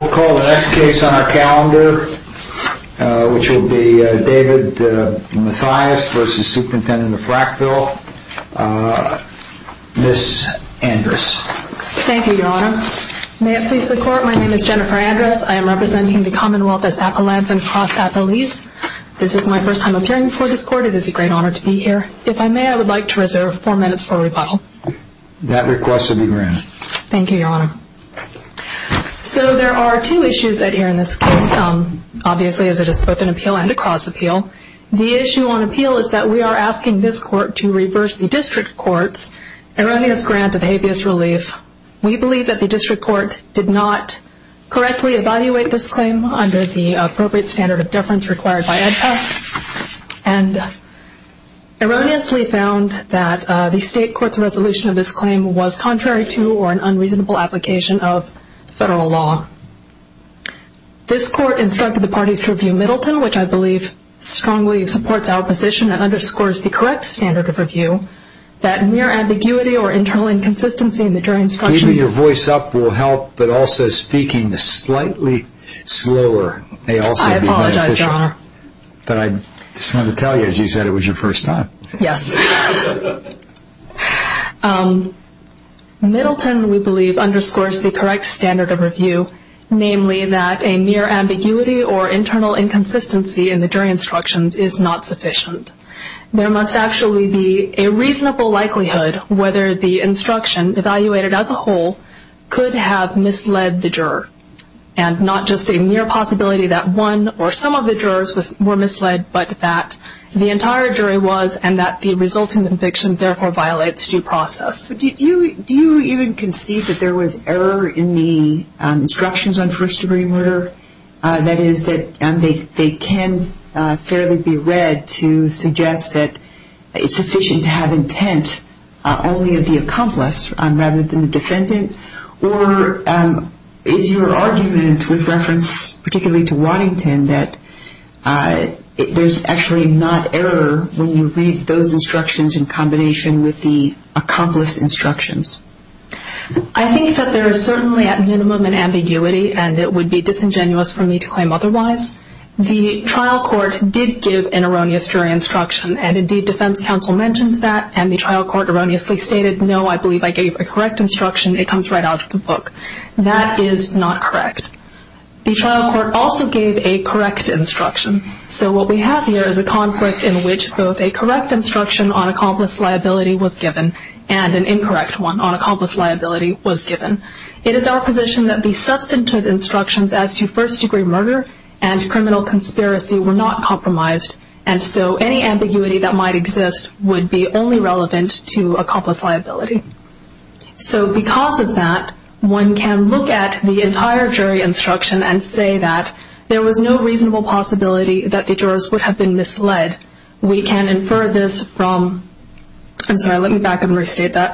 We'll call the next case on our calendar, which will be David Mathias v. Supt Frackville, Ms. Andrus. Thank you, Your Honor. May it please the Court, my name is Jennifer Andrus. I am representing the Commonwealth as Appalachian cross-Appalese. This is my first time appearing before this Court. It is a great honor to be here. If I may, I would like to reserve four minutes for rebuttal. That request will be granted. Thank you, Your Honor. There are two issues in this case, obviously, as it is both an appeal and a cross-appeal. The issue on appeal is that we are asking this Court to reverse the District Court's erroneous grant of habeas relief. We believe that the District Court did not correctly evaluate this claim under the appropriate standard of deference required by EdPASS and erroneously found that the State Court's resolution of this claim was contrary to or an unreasonable application of federal law. This Court instructed the parties to review Middleton, which I believe strongly supports our position and underscores the correct standard of review, that mere ambiguity or internal inconsistency in the jury instructions... Keeping your voice up will help, but also speaking slightly slower may also be beneficial. But I just wanted to tell you, as you said, it was your first time. Yes. Middleton, we believe, underscores the correct standard of review, namely that a mere ambiguity or internal inconsistency in the jury instructions is not sufficient. There must actually be a reasonable likelihood whether the instruction, evaluated as a whole, could have misled the juror and not just a mere possibility that one or some of the jurors were misled, but that the entire jury was and that the resulting conviction therefore violates due process. Do you even concede that there was error in the instructions on first-degree murder? That is, that they can fairly be read to suggest that it's sufficient to have intent only of the accomplice rather than the defendant? Or is your argument with reference particularly to Waddington that there's actually not error when you read those instructions in combination with the accomplice instructions? I think that there is certainly at minimum an ambiguity, and it would be disingenuous for me to claim otherwise. The trial court did give an erroneous jury instruction, and indeed defense counsel mentioned that, and the trial court erroneously stated, no, I believe I gave a correct instruction. It comes right out of the book. That is not correct. The trial court also gave a correct instruction. So what we have here is a conflict in which both a correct instruction on accomplice liability was given and an incorrect one on accomplice liability was given. It is our position that the substantive instructions as to first-degree murder and criminal conspiracy were not compromised, and so any ambiguity that might exist would be only relevant to accomplice liability. So because of that, one can look at the entire jury instruction and say that there was no reasonable possibility that the jurors would have been misled. We can infer this from the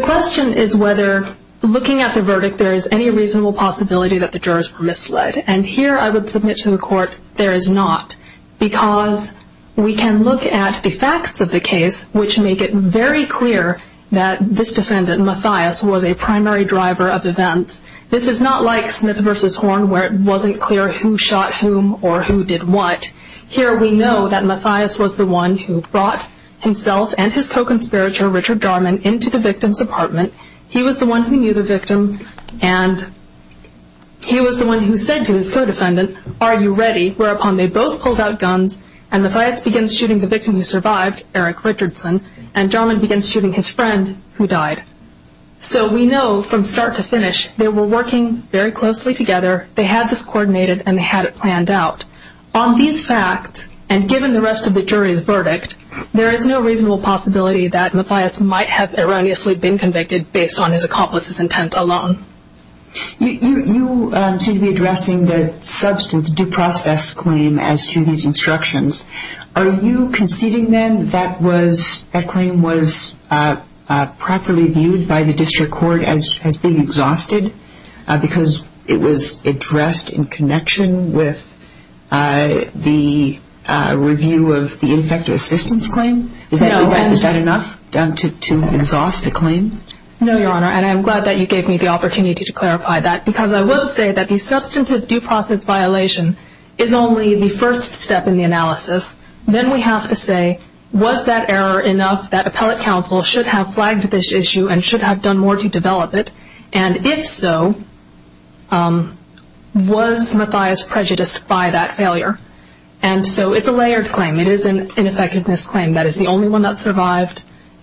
question is whether, looking at the verdict, there is any reasonable possibility that the jurors were misled. And here I would submit to the court there is not because we can look at the facts of the case which make it very clear that this defendant, Mathias, was a primary driver of events. This is not like Smith v. Horn where it wasn't clear who shot whom or who did what. Here we know that Mathias was the one who brought himself and his co-conspirator, Richard Jarman, into the victim's apartment. He was the one who knew the victim, and he was the one who said to his co-defendant, Are you ready? Whereupon they both pulled out guns, and Mathias begins shooting the victim who survived, Eric Richardson, and Jarman begins shooting his friend who died. So we know from start to finish they were working very closely together, they had this coordinated, and they had it planned out. On these facts, and given the rest of the jury's verdict, there is no reasonable possibility that Mathias might have erroneously been convicted based on his accomplice's intent alone. You seem to be addressing the substance, the due process claim as to these instructions. Are you conceding then that that claim was properly viewed by the district court as being exhausted because it was addressed in connection with the review of the ineffective assistance claim? Is that enough to exhaust a claim? No, Your Honor, and I'm glad that you gave me the opportunity to clarify that because I will say that the substantive due process violation is only the first step in the analysis. Then we have to say, was that error enough that appellate counsel should have flagged this issue and should have done more to develop it? And if so, was Mathias prejudiced by that failure? And so it's a layered claim. It is an ineffectiveness claim. That is the only one that survived.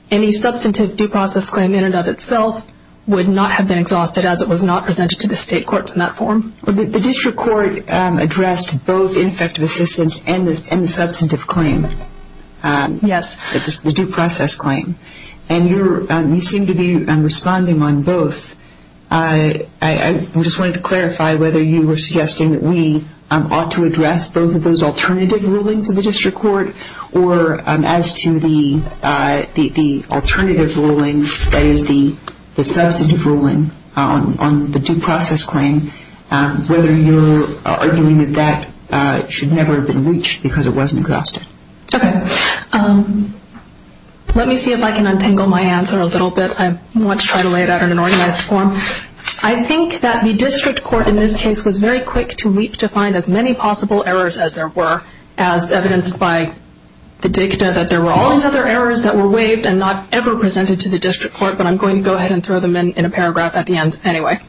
Any substantive due process claim in and of itself would not have been exhausted as it was not presented to the state courts in that form. The district court addressed both ineffective assistance and the substantive claim. Yes. The due process claim. And you seem to be responding on both. I just wanted to clarify whether you were suggesting that we ought to address both of those alternative rulings of the district court or as to the alternative ruling, that is the substantive ruling on the due process claim, whether you're arguing that that should never have been reached because it wasn't exhausted. Okay. Let me see if I can untangle my answer a little bit. I want to try to lay it out in an organized form. I think that the district court in this case was very quick to leap to find as many possible errors as there were, as evidenced by the dicta, that there were all these other errors that were waived and not ever presented to the district court, but I'm going to go ahead and throw them in in a paragraph at the end anyway.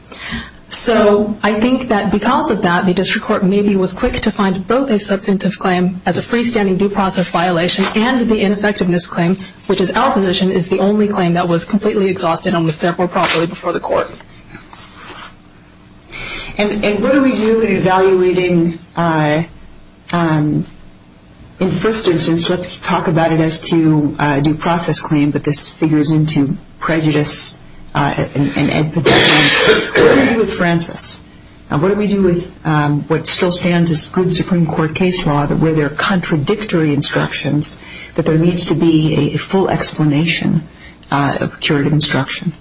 So I think that because of that, the district court maybe was quick to find both a substantive claim as a freestanding due process violation and the ineffectiveness claim, which is our position, is the only claim that was completely exhausted and was therefore properly before the court. And what do we do in evaluating, in the first instance, let's talk about it as to due process claim, but this figures into prejudice and evidence. What do we do with Francis? And what do we do with what still stands as good Supreme Court case law, that where there are contradictory instructions, that there needs to be a full explanation of curative instruction?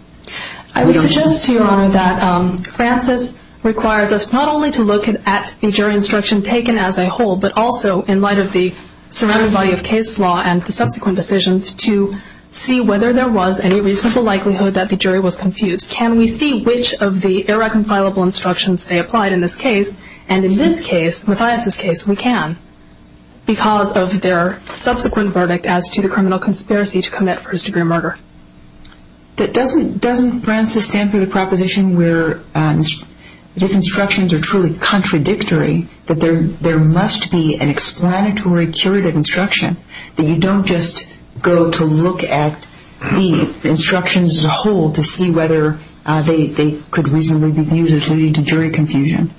I would suggest to Your Honor that Francis requires us not only to look at the jury instruction taken as a whole, but also in light of the surrounding body of case law and the subsequent decisions to see whether there was any reasonable likelihood that the jury was confused. Can we see which of the irreconcilable instructions they applied in this case? And in this case, Mathias' case, we can, because of their subsequent verdict as to the criminal conspiracy to commit first-degree murder. Doesn't Francis stand for the proposition where if instructions are truly contradictory, that there must be an explanatory curative instruction, that you don't just go to look at the instructions as a whole to see whether they could reasonably be viewed as leading to jury confusion?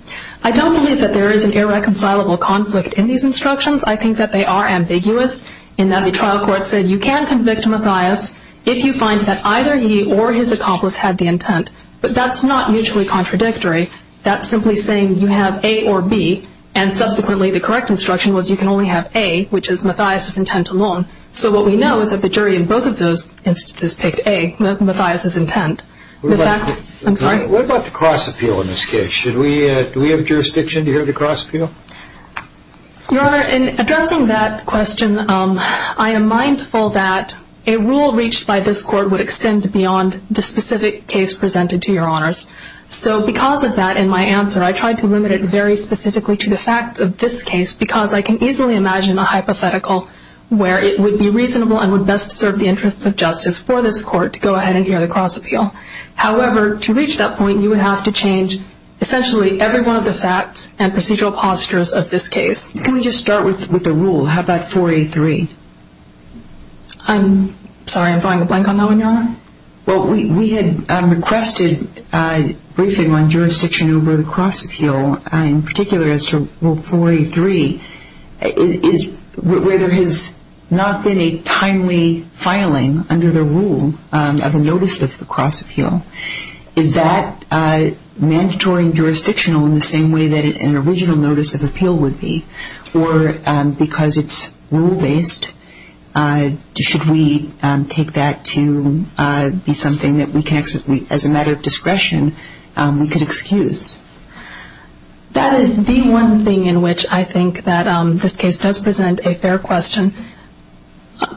I don't believe that there is an irreconcilable conflict in these instructions. I think that they are ambiguous in that the trial court said you can convict Mathias if you find that either he or his accomplice had the intent. But that's not mutually contradictory. That's simply saying you have A or B, and subsequently the correct instruction was you can only have A, which is Mathias' intent alone. So what we know is that the jury in both of those instances picked A, Mathias' intent. What about the cross-appeal in this case? Do we have jurisdiction to hear the cross-appeal? Your Honor, in addressing that question, I am mindful that a rule reached by this Court would extend beyond the specific case presented to Your Honors. So because of that in my answer, I tried to limit it very specifically to the facts of this case because I can easily imagine a hypothetical where it would be reasonable and would best serve the interests of justice for this Court to go ahead and hear the cross-appeal. However, to reach that point, you would have to change essentially every one of the facts and procedural postures of this case. Can we just start with the rule? How about 4A3? Well, we had requested briefing on jurisdiction over the cross-appeal, in particular as to Rule 4A3, where there has not been a timely filing under the rule of a notice of the cross-appeal. Is that mandatory and jurisdictional in the same way that an original notice of appeal would be? Or because it's rule-based, should we take that to be something that we can, as a matter of discretion, we could excuse? That is the one thing in which I think that this case does present a fair question.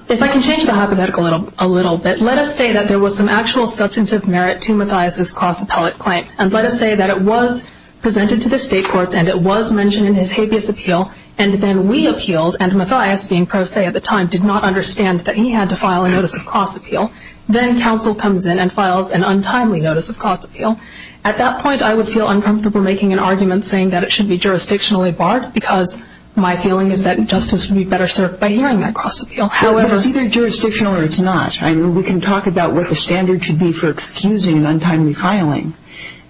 If I can change the hypothetical a little bit, let us say that there was some actual substantive merit to Mathias's cross-appellate claim, and let us say that it was presented to the State courts and it was mentioned in his habeas appeal, and then we appealed, and Mathias, being pro se at the time, did not understand that he had to file a notice of cross-appeal. Then counsel comes in and files an untimely notice of cross-appeal. At that point, I would feel uncomfortable making an argument saying that it should be jurisdictionally barred because my feeling is that justice would be better served by hearing that cross-appeal. Well, it's either jurisdictional or it's not. We can talk about what the standard should be for excusing an untimely filing,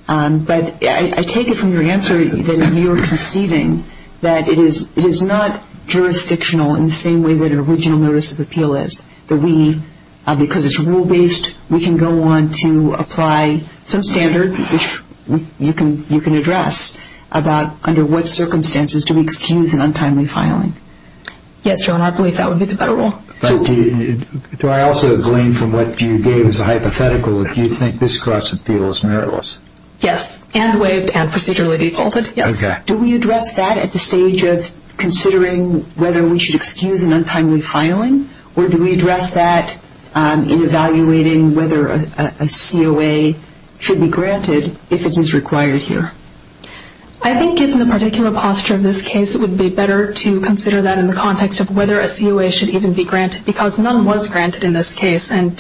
but I take it from your answer that you are conceding that it is not jurisdictional in the same way that an original notice of appeal is. Because it's rule-based, we can go on to apply some standard, which you can address, about under what circumstances do we excuse an untimely filing. Yes, Joan, I believe that would be the better rule. Do I also glean from what you gave as a hypothetical that you think this cross-appeal is meritless? Yes, and waived and procedurally defaulted, yes. Do we address that at the stage of considering whether we should excuse an untimely filing, or do we address that in evaluating whether a COA should be granted if it is required here? I think given the particular posture of this case, it would be better to consider that in the context of whether a COA should even be granted, because none was granted in this case. And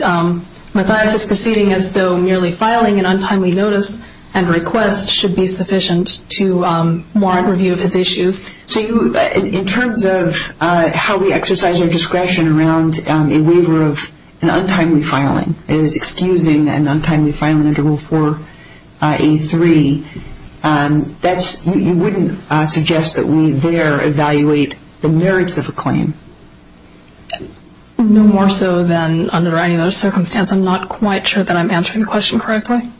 Matthias' proceeding as though merely filing an untimely notice and request should be sufficient to warrant review of his issues. So in terms of how we exercise our discretion around a waiver of an untimely filing, is excusing an untimely filing under Rule 4A3, you wouldn't suggest that we there evaluate the merits of a claim. No more so than under any other circumstance. I'm not quite sure that I'm answering the question correctly.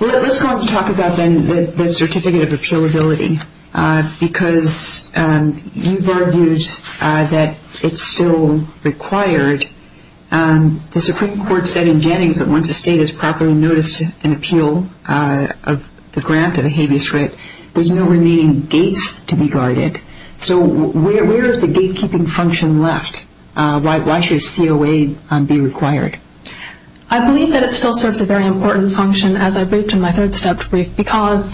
Well, let's go on to talk about then the certificate of appealability, because you've argued that it's still required. The Supreme Court said in Jennings that once a State has properly noticed an appeal of the grant of a habeas grit, there's no remaining gates to be guarded. So where is the gatekeeping function left? Why should a COA be required? I believe that it still serves a very important function, as I briefed in my third-step brief, because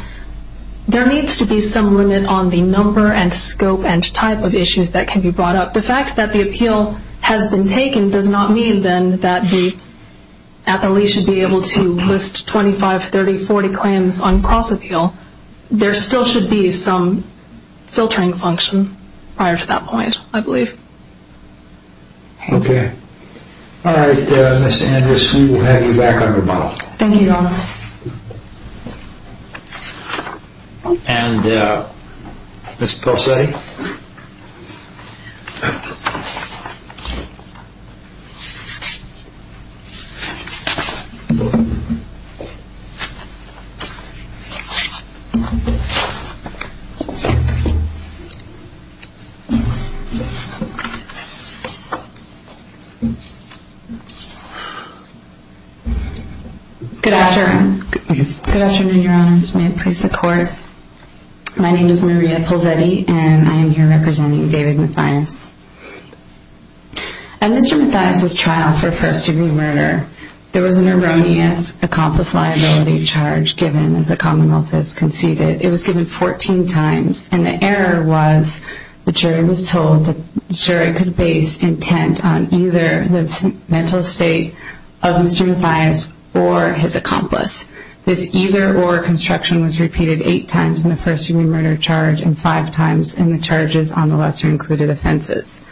there needs to be some limit on the number and scope and type of issues that can be brought up. The fact that the appeal has been taken does not mean, then, that the appellee should be able to list 25, 30, 40 claims on cross-appeal. There still should be some filtering function prior to that point, I believe. Okay. All right, Ms. Andrus, we will have you back on rebuttal. Thank you, Your Honor. Good afternoon. Good afternoon, Your Honors. May it please the Court. My name is Maria Polzetti, and I am here representing David Mathias. At Mr. Mathias's trial for first-degree murder, there was an erroneous accomplice liability charge given, as the Commonwealth has conceded. It was given 14 times, and the error was the jury was told that the jury could base intent on either the mental state of Mr. Mathias or his accomplice. This either-or construction was repeated eight times in the first-degree murder charge and five times in the charges on the lesser-included offenses.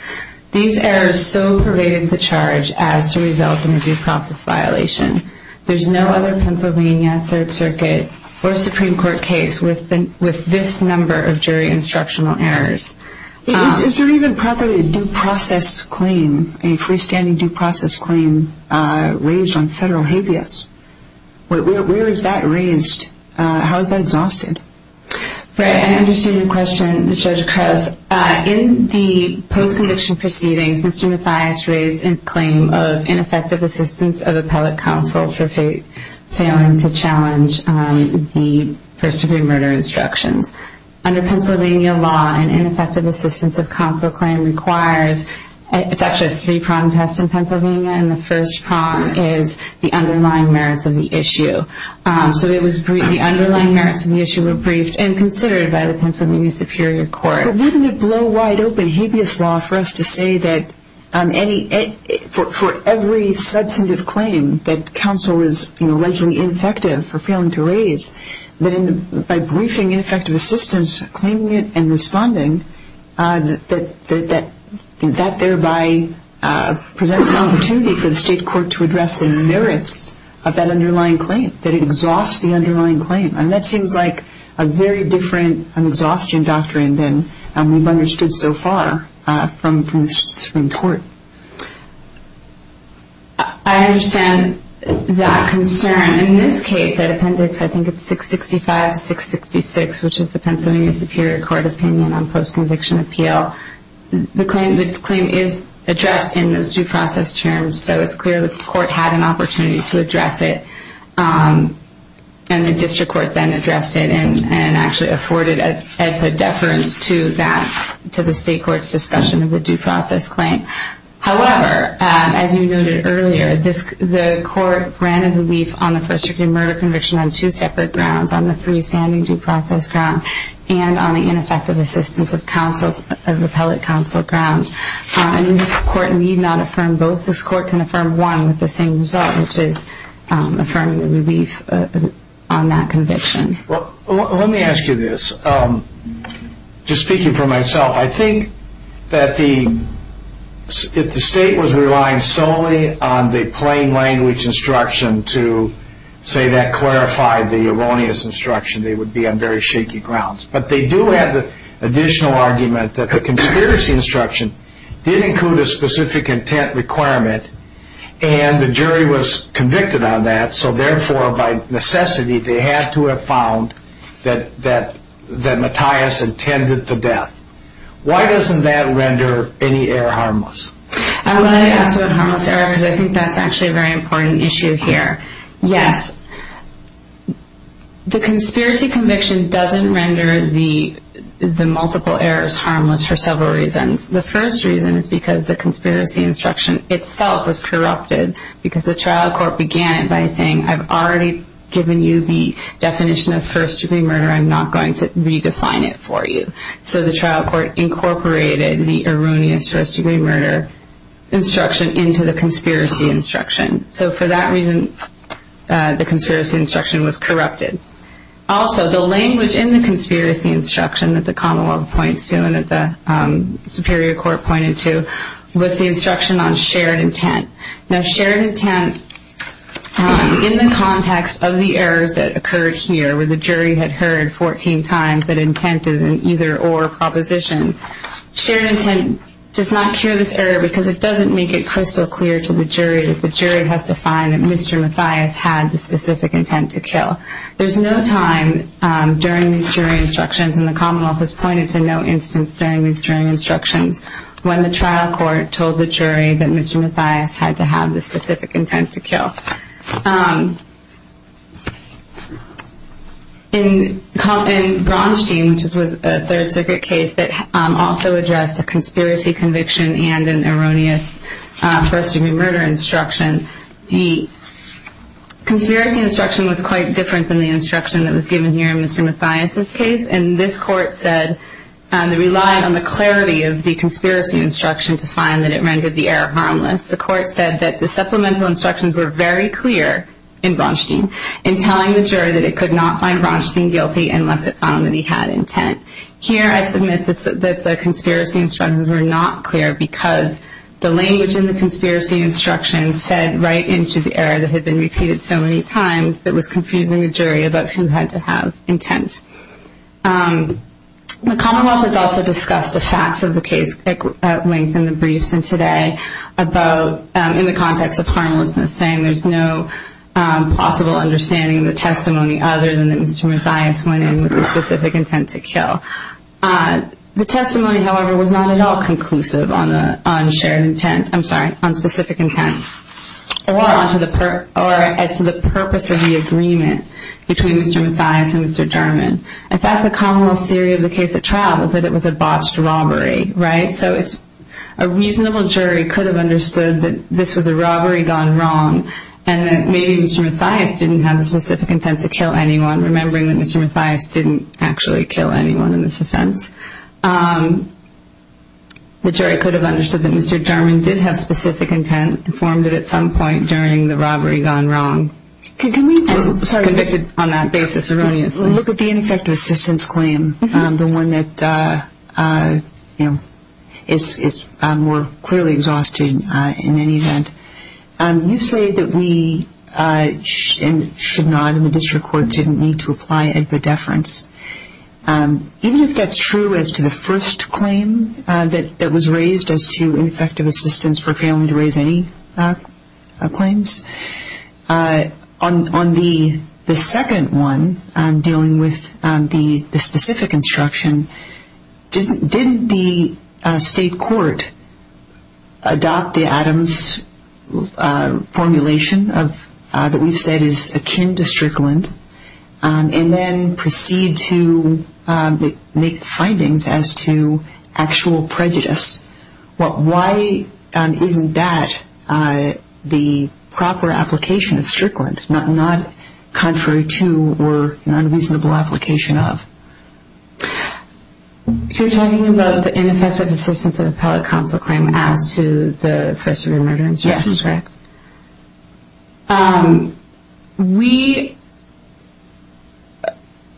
These errors so pervaded the charge as to result in a due process violation. There is no other Pennsylvania Third Circuit or Supreme Court case with this number of jury instructional errors. Is there even properly a due process claim, a freestanding due process claim, raised on federal habeas? Where is that raised? How is that exhausted? I understand your question, Judge Krause. In the post-conviction proceedings, Mr. Mathias raised a claim of ineffective assistance of appellate counsel for failing to challenge the first-degree murder instructions. Under Pennsylvania law, an ineffective assistance of counsel claim requires – it's actually a three-prong test in Pennsylvania – and the first prong is the underlying merits of the issue. So the underlying merits of the issue were briefed and considered by the Pennsylvania Superior Court. But wouldn't it blow wide open habeas law for us to say that for every substantive claim that counsel is allegedly ineffective for failing to raise, that by briefing ineffective assistance, claiming it, and responding, that thereby presents an opportunity for the state court to address the merits of that underlying claim, that it exhausts the underlying claim? That seems like a very different exhaustion doctrine than we've understood so far from the Supreme Court. I understand that concern. In this case, that appendix, I think it's 665 to 666, which is the Pennsylvania Superior Court opinion on post-conviction appeal. The claim is addressed in those due process terms, so it's clear that the court had an opportunity to address it. And the district court then addressed it and actually afforded a deference to that, to the state court's discussion of the due process claim. However, as you noted earlier, the court granted relief on the first-degree murder conviction on two separate grounds, on the freestanding due process ground and on the ineffective assistance of repellent counsel ground. And this court need not affirm both. This court can affirm one with the same result, which is affirming the relief on that conviction. Let me ask you this. Just speaking for myself, I think that if the state was relying solely on the plain language instruction to say that clarified the erroneous instruction, they would be on very shaky grounds. But they do have the additional argument that the conspiracy instruction did include a specific intent requirement, and the jury was convicted on that, so therefore, by necessity, they had to have found that Mattias intended the death. Why doesn't that render any error harmless? I wanted to ask about harmless error, because I think that's actually a very important issue here. Yes, the conspiracy conviction doesn't render the multiple errors harmless for several reasons. The first reason is because the conspiracy instruction itself was corrupted, because the trial court began it by saying, I've already given you the definition of first-degree murder. I'm not going to redefine it for you. So the trial court incorporated the erroneous first-degree murder instruction into the conspiracy instruction. So for that reason, the conspiracy instruction was corrupted. Also, the language in the conspiracy instruction that the commonwealth points to and that the superior court pointed to was the instruction on shared intent. Now, shared intent, in the context of the errors that occurred here, where the jury had heard 14 times that intent is an either-or proposition, shared intent does not cure this error, because it doesn't make it crystal clear to the jury that the jury has to find that Mr. Mattias had the specific intent to kill. There's no time during these jury instructions, and the commonwealth has pointed to no instance during these jury instructions, when the trial court told the jury that Mr. Mattias had to have the specific intent to kill. In Braunstein, which was a Third Circuit case that also addressed the conspiracy conviction and an erroneous first-degree murder instruction, the conspiracy instruction was quite different than the instruction that was given here in Mr. Mattias' case, and this court said it relied on the clarity of the conspiracy instruction to find that it rendered the error harmless. The court said that the supplemental instructions were very clear in Braunstein in telling the jury that it could not find Braunstein guilty unless it found that he had intent. Here, I submit that the conspiracy instructions were not clear because the language in the conspiracy instruction fed right into the error that had been repeated so many times that was confusing the jury about who had to have intent. The commonwealth has also discussed the facts of the case at length in the briefs and today in the context of harmlessness, saying there's no possible understanding of the testimony other than that Mr. Mattias went in with the specific intent to kill. The testimony, however, was not at all conclusive on the shared intent, I'm sorry, on specific intent. Or as to the purpose of the agreement between Mr. Mattias and Mr. German. In fact, the commonwealth theory of the case at trial was that it was a botched robbery, right? So a reasonable jury could have understood that this was a robbery gone wrong and that maybe Mr. Mattias didn't have the specific intent to kill anyone, remembering that Mr. Mattias didn't actually kill anyone in this offense. The jury could have understood that Mr. German did have specific intent and formed it at some point during the robbery gone wrong. Sorry, convicted on that basis erroneously. Look at the ineffective assistance claim, the one that is more clearly exhausted in any event. You say that we should not and the district court didn't need to apply a deference. Even if that's true as to the first claim that was raised as to ineffective assistance for failing to raise any claims, on the second one dealing with the specific instruction, didn't the state court adopt the Adams formulation that we've said is akin to strickland and then proceed to make findings as to actual prejudice? Why isn't that the proper application of strickland, not contrary to or an unreasonable application of? You're talking about the ineffective assistance of appellate counsel claim as to the first degree murder instruction, correct?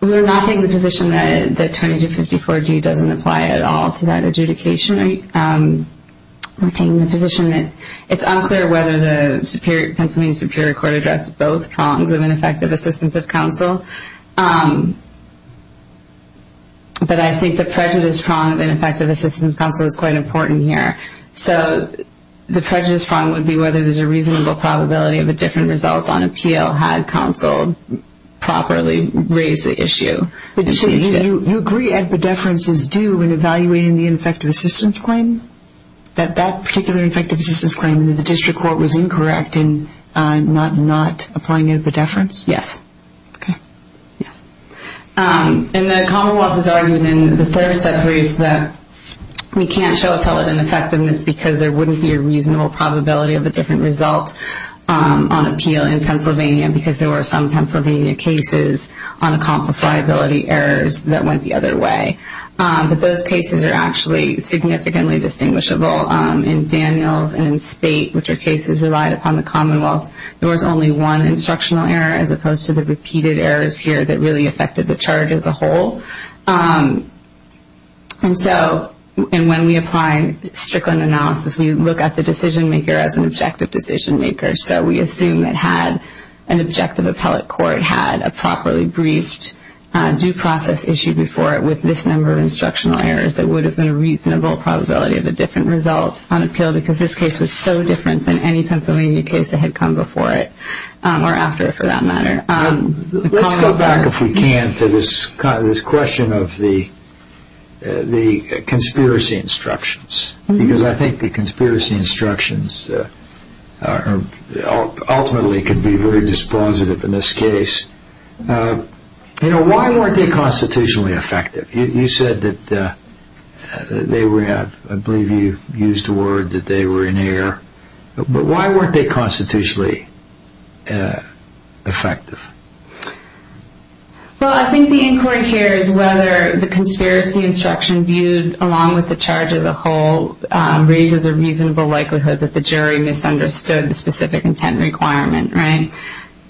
We're not taking the position that 2254G doesn't apply at all to that adjudication. We're taking the position that it's unclear whether the Pennsylvania Superior Court addressed both prongs of ineffective assistance of counsel, but I think the prejudice prong of ineffective assistance of counsel is quite important here. The prejudice prong would be whether there's a reasonable probability of a different result on appeal had counsel properly raised the issue. You agree that a deference is due in evaluating the ineffective assistance claim? That that particular ineffective assistance claim in the district court was incorrect in not applying a deference? Yes. And the Commonwealth has argued in the third sub-brief that we can't show appellate ineffectiveness because there wouldn't be a reasonable probability of a different result on appeal in Pennsylvania because there were some Pennsylvania cases on accomplifiability errors that went the other way. But those cases are actually significantly distinguishable in Daniels and in Spate, which are cases relied upon the Commonwealth. There was only one instructional error as opposed to the repeated errors here that really affected the charge as a whole. And so when we apply Strickland analysis, we look at the decision-maker as an objective decision-maker. So we assume that had an objective appellate court had a properly briefed due process issue before it with this number of instructional errors, there would have been a reasonable probability of a different result on appeal because this case was so different than any Pennsylvania case that had come before it, or after it for that matter. Let's go back, if we can, to this question of the conspiracy instructions because I think the conspiracy instructions ultimately can be very dispositive in this case. You know, why weren't they constitutionally effective? You said that they were, I believe you used the word that they were in error. But why weren't they constitutionally effective? Well, I think the inquiry here is whether the conspiracy instruction viewed along with the charge as a whole raises a reasonable likelihood that the jury misunderstood the specific intent requirement, right?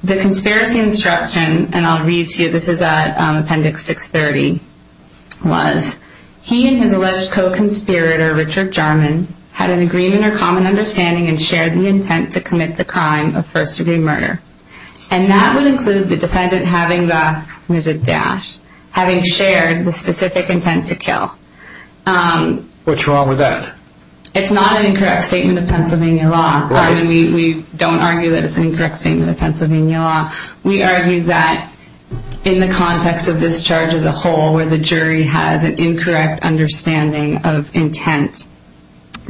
The conspiracy instruction, and I'll read to you, this is at appendix 630, was, he and his alleged co-conspirator, Richard Jarman, had an agreement or common understanding and shared the intent to commit the crime of first-degree murder. And that would include the defendant having the, there's a dash, having shared the specific intent to kill. What's wrong with that? It's not an incorrect statement of Pennsylvania law. I mean, we don't argue that it's an incorrect statement of Pennsylvania law. We argue that in the context of this charge as a whole, where the jury has an incorrect understanding of intent,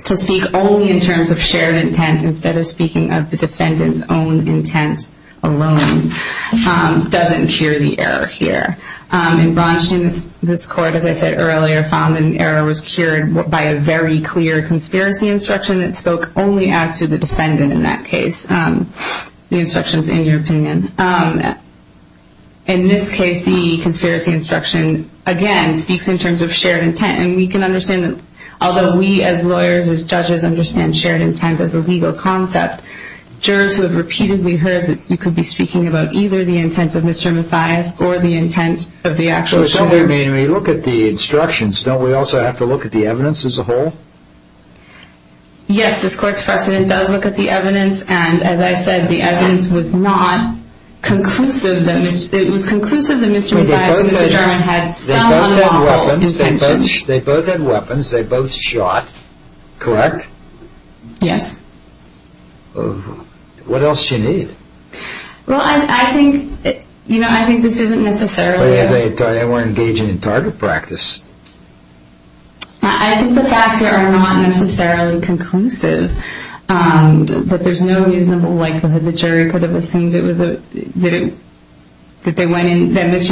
to speak only in terms of shared intent instead of speaking of the defendant's own intent alone doesn't cure the error here. And Braunstein, this court, as I said earlier, found an error was cured by a very clear conspiracy instruction that spoke only as to the defendant in that case. The instruction's in your opinion. In this case, the conspiracy instruction, again, speaks in terms of shared intent. And we can understand, although we as lawyers, as judges, understand shared intent as a legal concept, jurors who have repeatedly heard that you could be speaking about either the intent of Mr. Mathias or the intent of the actual shooter. Well, I mean, we look at the instructions. Don't we also have to look at the evidence as a whole? Yes, this court's precedent does look at the evidence. And as I said, the evidence was not conclusive. It was conclusive that Mr. Mathias and Mr. Jarman had some unlawful intentions. They both had weapons. They both shot, correct? Yes. What else do you need? Well, I think this isn't necessarily a... They weren't engaging in target practice. I think the facts here are not necessarily conclusive, but there's no reasonable likelihood the jury could have assumed that Mr.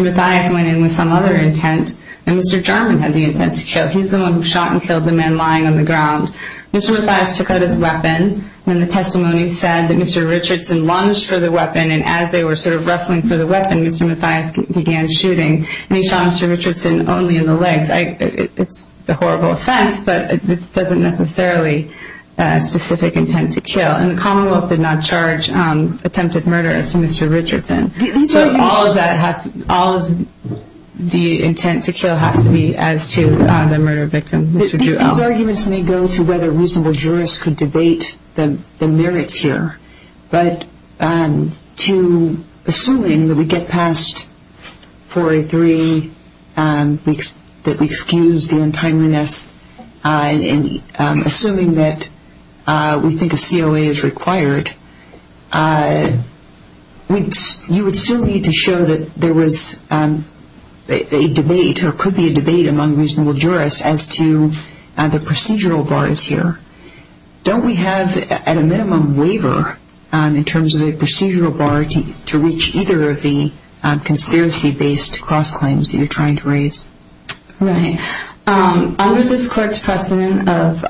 Mathias went in with some other intent and Mr. Jarman had the intent to kill. He's the one who shot and killed the man lying on the ground. Mr. Mathias took out his weapon when the testimony said that Mr. Richardson lunged for the weapon, and as they were sort of wrestling for the weapon, Mr. Mathias began shooting. And he shot Mr. Richardson only in the legs. It's a horrible offense, but it doesn't necessarily have a specific intent to kill. And the Commonwealth did not charge attempted murder as to Mr. Richardson. So all of the intent to kill has to be as to the murder victim, Mr. Jewell. These arguments may go to whether reasonable jurists could debate the merits here, but to assuming that we get past 403, that we excuse the untimeliness, and assuming that we think a COA is required, you would still need to show that there was a debate or could be a debate among reasonable jurists as to the procedural bars here. Don't we have at a minimum waiver in terms of a procedural bar to reach either of the conspiracy-based cross-claims that you're trying to raise? Right. Under this court's precedent of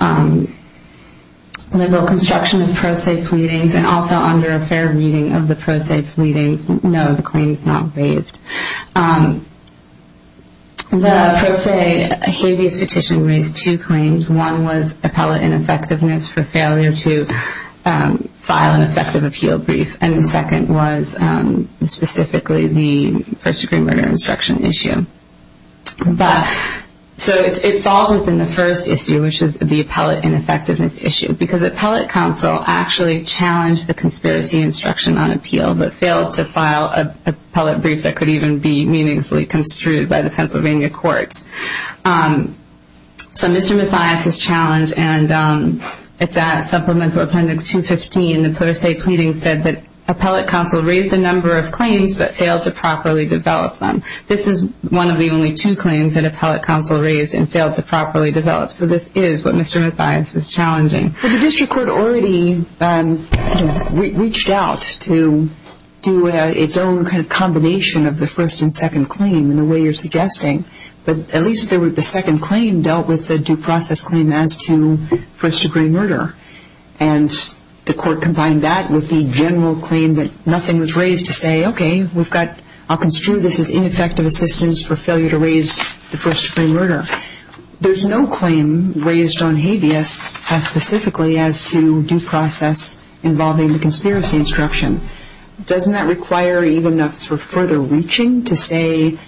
liberal construction of pro se pleadings, and also under a fair reading of the pro se pleadings, no, the claim is not waived. The pro se habeas petition raised two claims. One was appellate ineffectiveness for failure to file an effective appeal brief, and the second was specifically the first-degree murder instruction issue. So it falls within the first issue, which is the appellate ineffectiveness issue, because appellate counsel actually challenged the conspiracy instruction on appeal but failed to file an appellate brief that could even be meaningfully construed by the Pennsylvania courts. So Mr. Mathias's challenge, and it's at Supplemental Appendix 215, the pro se pleadings said that appellate counsel raised a number of claims but failed to properly develop them. This is one of the only two claims that appellate counsel raised and failed to properly develop. So this is what Mr. Mathias was challenging. But the district court already reached out to do its own kind of combination of the first and second claim in the way you're suggesting. But at least the second claim dealt with the due process claim as to first-degree murder. And the court combined that with the general claim that nothing was raised to say, okay, I'll construe this as ineffective assistance for failure to raise the first-degree murder. There's no claim raised on habeas specifically as to due process involving the conspiracy instruction. Doesn't that require even enough further reaching to say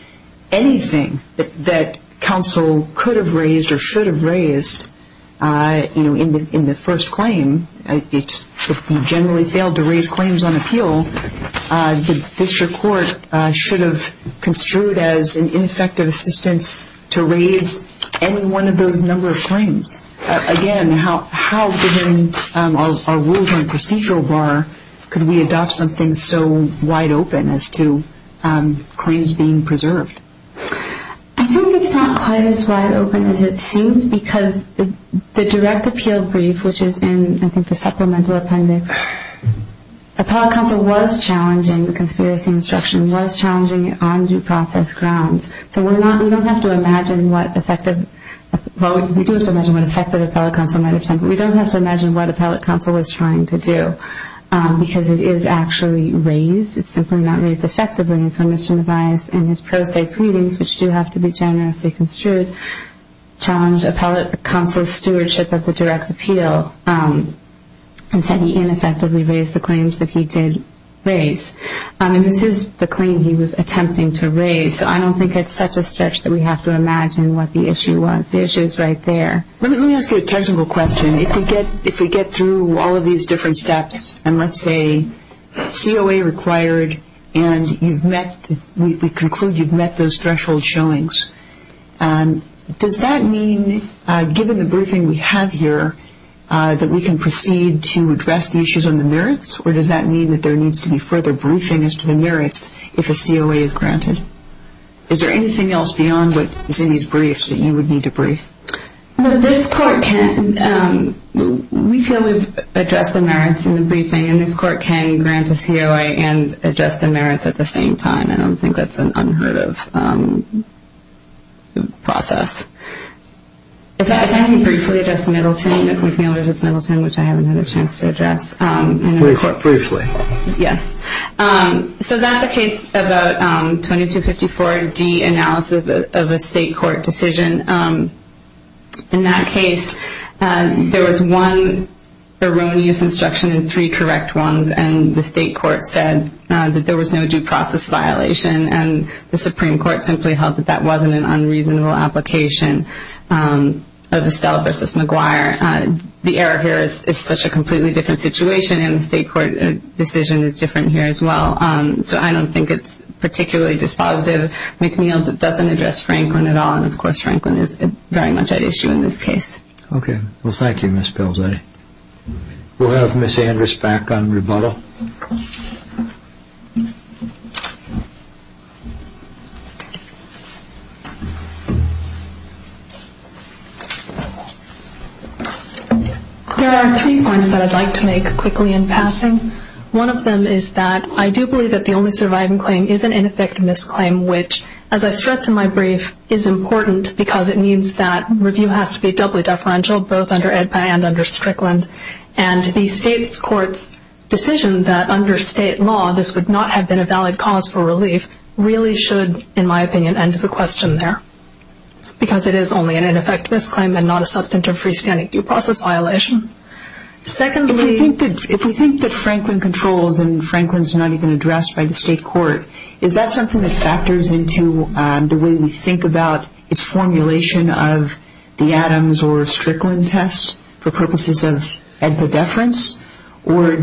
anything that counsel could have raised or should have raised in the first claim? If he generally failed to raise claims on appeal, the district court should have construed as an ineffective assistance to raise any one of those number of claims. Again, how, given our rules on procedural bar, could we adopt something so wide open as to claims being preserved? I think it's not quite as wide open as it seems because the direct appeal brief, which is in, I think, the supplemental appendix, appellate counsel was challenging conspiracy instruction, was challenging it on due process grounds. So we're not, we don't have to imagine what effective, well, we do have to imagine what effective appellate counsel might have said, but we don't have to imagine what appellate counsel was trying to do because it is actually raised. It's simply not raised effectively. And so Mr. Nevaez in his pro se pleadings, which do have to be generously construed, challenged appellate counsel's stewardship of the direct appeal and said he ineffectively raised the claims that he did raise. And this is the claim he was attempting to raise. So I don't think it's such a stretch that we have to imagine what the issue was. The issue is right there. Let me ask you a technical question. If we get through all of these different steps and let's say COA required and you've met, we conclude you've met those threshold showings, does that mean given the briefing we have here that we can proceed to address the issues on the merits? Or does that mean that there needs to be further briefing as to the merits if a COA is granted? Is there anything else beyond what is in these briefs that you would need to brief? This court can, we feel we've addressed the merits in the briefing and this court can grant a COA and address the merits at the same time. I don't think that's an unheard of process. If I can briefly address Middleton, if we can address Middleton, which I haven't had a chance to address. Briefly. Yes. So that's a case about 2254D analysis of a state court decision. In that case, there was one erroneous instruction and three correct ones and the state court said that there was no due process violation and the Supreme Court simply held that that wasn't an unreasonable application of Estelle v. McGuire. The error here is such a completely different situation and the state court decision is different here as well. So I don't think it's particularly dispositive. McNeil doesn't address Franklin at all and, of course, Franklin is very much at issue in this case. Okay. Well, thank you, Ms. Belzetti. We'll have Ms. Andrews back on rebuttal. There are three points that I'd like to make quickly in passing. One of them is that I do believe that the only surviving claim is an ineffectiveness claim, which, as I stressed in my brief, is important because it means that review has to be doubly deferential both under EDPA and under Strickland and the state court's decision that under state law this would not have been a valid cause for relief really should, in my opinion, end the question there because it is only an ineffectiveness claim and not a substantive freestanding due process violation. Secondly... If we think that Franklin controls and Franklin's not even addressed by the state court, is that something that factors into the way we think about its formulation of the Adams or Strickland test for purposes of EDPA deference? Or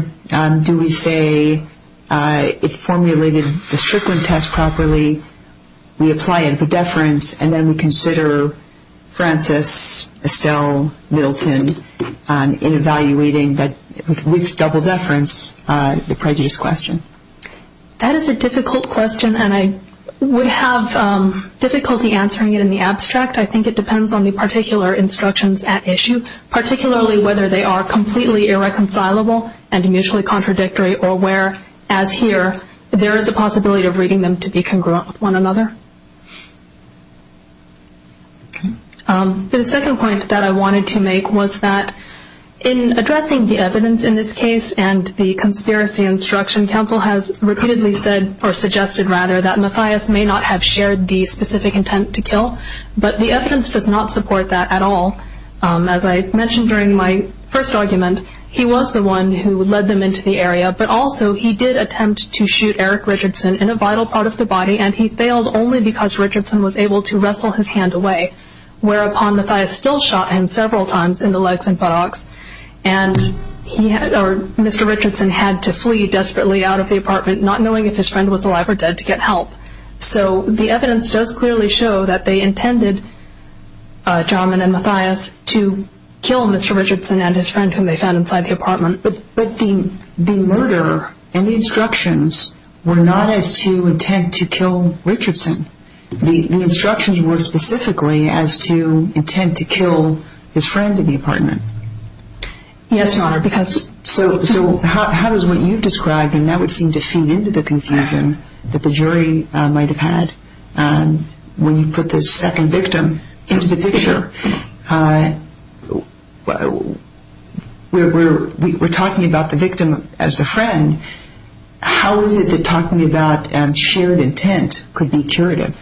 do we say it formulated the Strickland test properly, we apply EDPA deference, and then we consider Francis, Estelle, Middleton in evaluating with double deference the prejudice question? That is a difficult question and I would have difficulty answering it in the abstract. I think it depends on the particular instructions at issue, particularly whether they are completely irreconcilable and mutually contradictory or where, as here, there is a possibility of reading them to be congruent with one another. The second point that I wanted to make was that in addressing the evidence in this case and the conspiracy instruction, counsel has repeatedly suggested that Mathias may not have shared the specific intent to kill, but the evidence does not support that at all. As I mentioned during my first argument, he was the one who led them into the area, but also he did attempt to shoot Eric Richardson in a vital part of the body and he failed only because Richardson was able to wrestle his hand away, whereupon Mathias still shot him several times in the legs and buttocks. Mr. Richardson had to flee desperately out of the apartment, not knowing if his friend was alive or dead, to get help. So the evidence does clearly show that they intended, Jarman and Mathias, to kill Mr. Richardson and his friend whom they found inside the apartment. But the murder and the instructions were not as to intend to kill Richardson. The instructions were specifically as to intend to kill his friend in the apartment. Yes, Your Honor, because... So how does what you've described, and that would seem to feed into the confusion that the jury might have had, when you put this second victim into the picture? We're talking about the victim as the friend. How is it that talking about shared intent could be curative?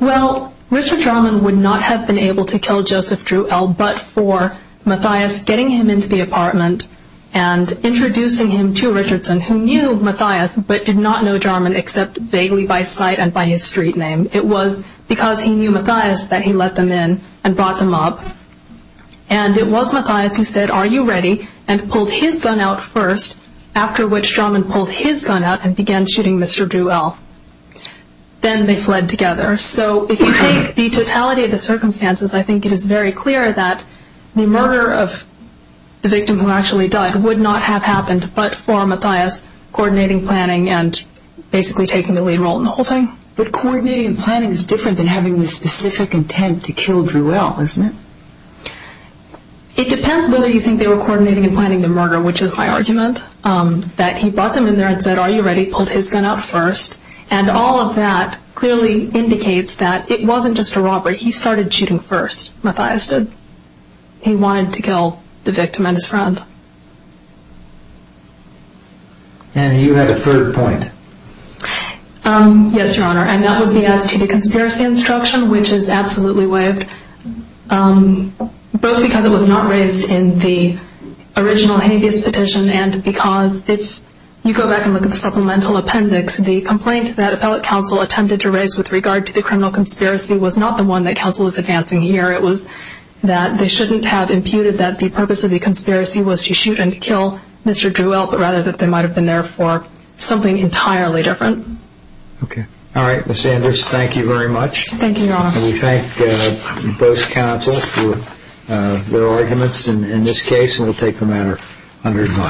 Well, Richard Jarman would not have been able to kill Joseph Druell, but for Mathias getting him into the apartment and introducing him to Richardson, who knew Mathias, but did not know Jarman except vaguely by sight and by his street name. It was because he knew Mathias that he let them in and brought them up. And it was Mathias who said, are you ready? And pulled his gun out first, after which Jarman pulled his gun out and began shooting Mr. Druell. Then they fled together. So if you take the totality of the circumstances, I think it is very clear that the murder of the victim who actually died would not have happened, but for Mathias coordinating planning and basically taking the lead role in the whole thing. But coordinating and planning is different than having the specific intent to kill Druell, isn't it? It depends whether you think they were coordinating and planning the murder, which is my argument, that he brought them in there and said, are you ready? Pulled his gun out first. And all of that clearly indicates that it wasn't just a robbery. He started shooting first, Mathias did. He wanted to kill the victim and his friend. And you had a third point. Yes, Your Honor. And that would be as to the conspiracy instruction, which is absolutely waived, both because it was not raised in the original habeas petition and because if you go back and look at the supplemental appendix, the complaint that appellate counsel attempted to raise with regard to the criminal conspiracy was not the one that counsel is advancing here. It was that they shouldn't have imputed that the purpose of the conspiracy was to shoot and kill Mr. Druell, but rather that they might have been there for something entirely different. Okay. All right, Ms. Andrews, thank you very much. Thank you, Your Honor. And we thank both counsels for their arguments in this case. And we'll take the matter under review.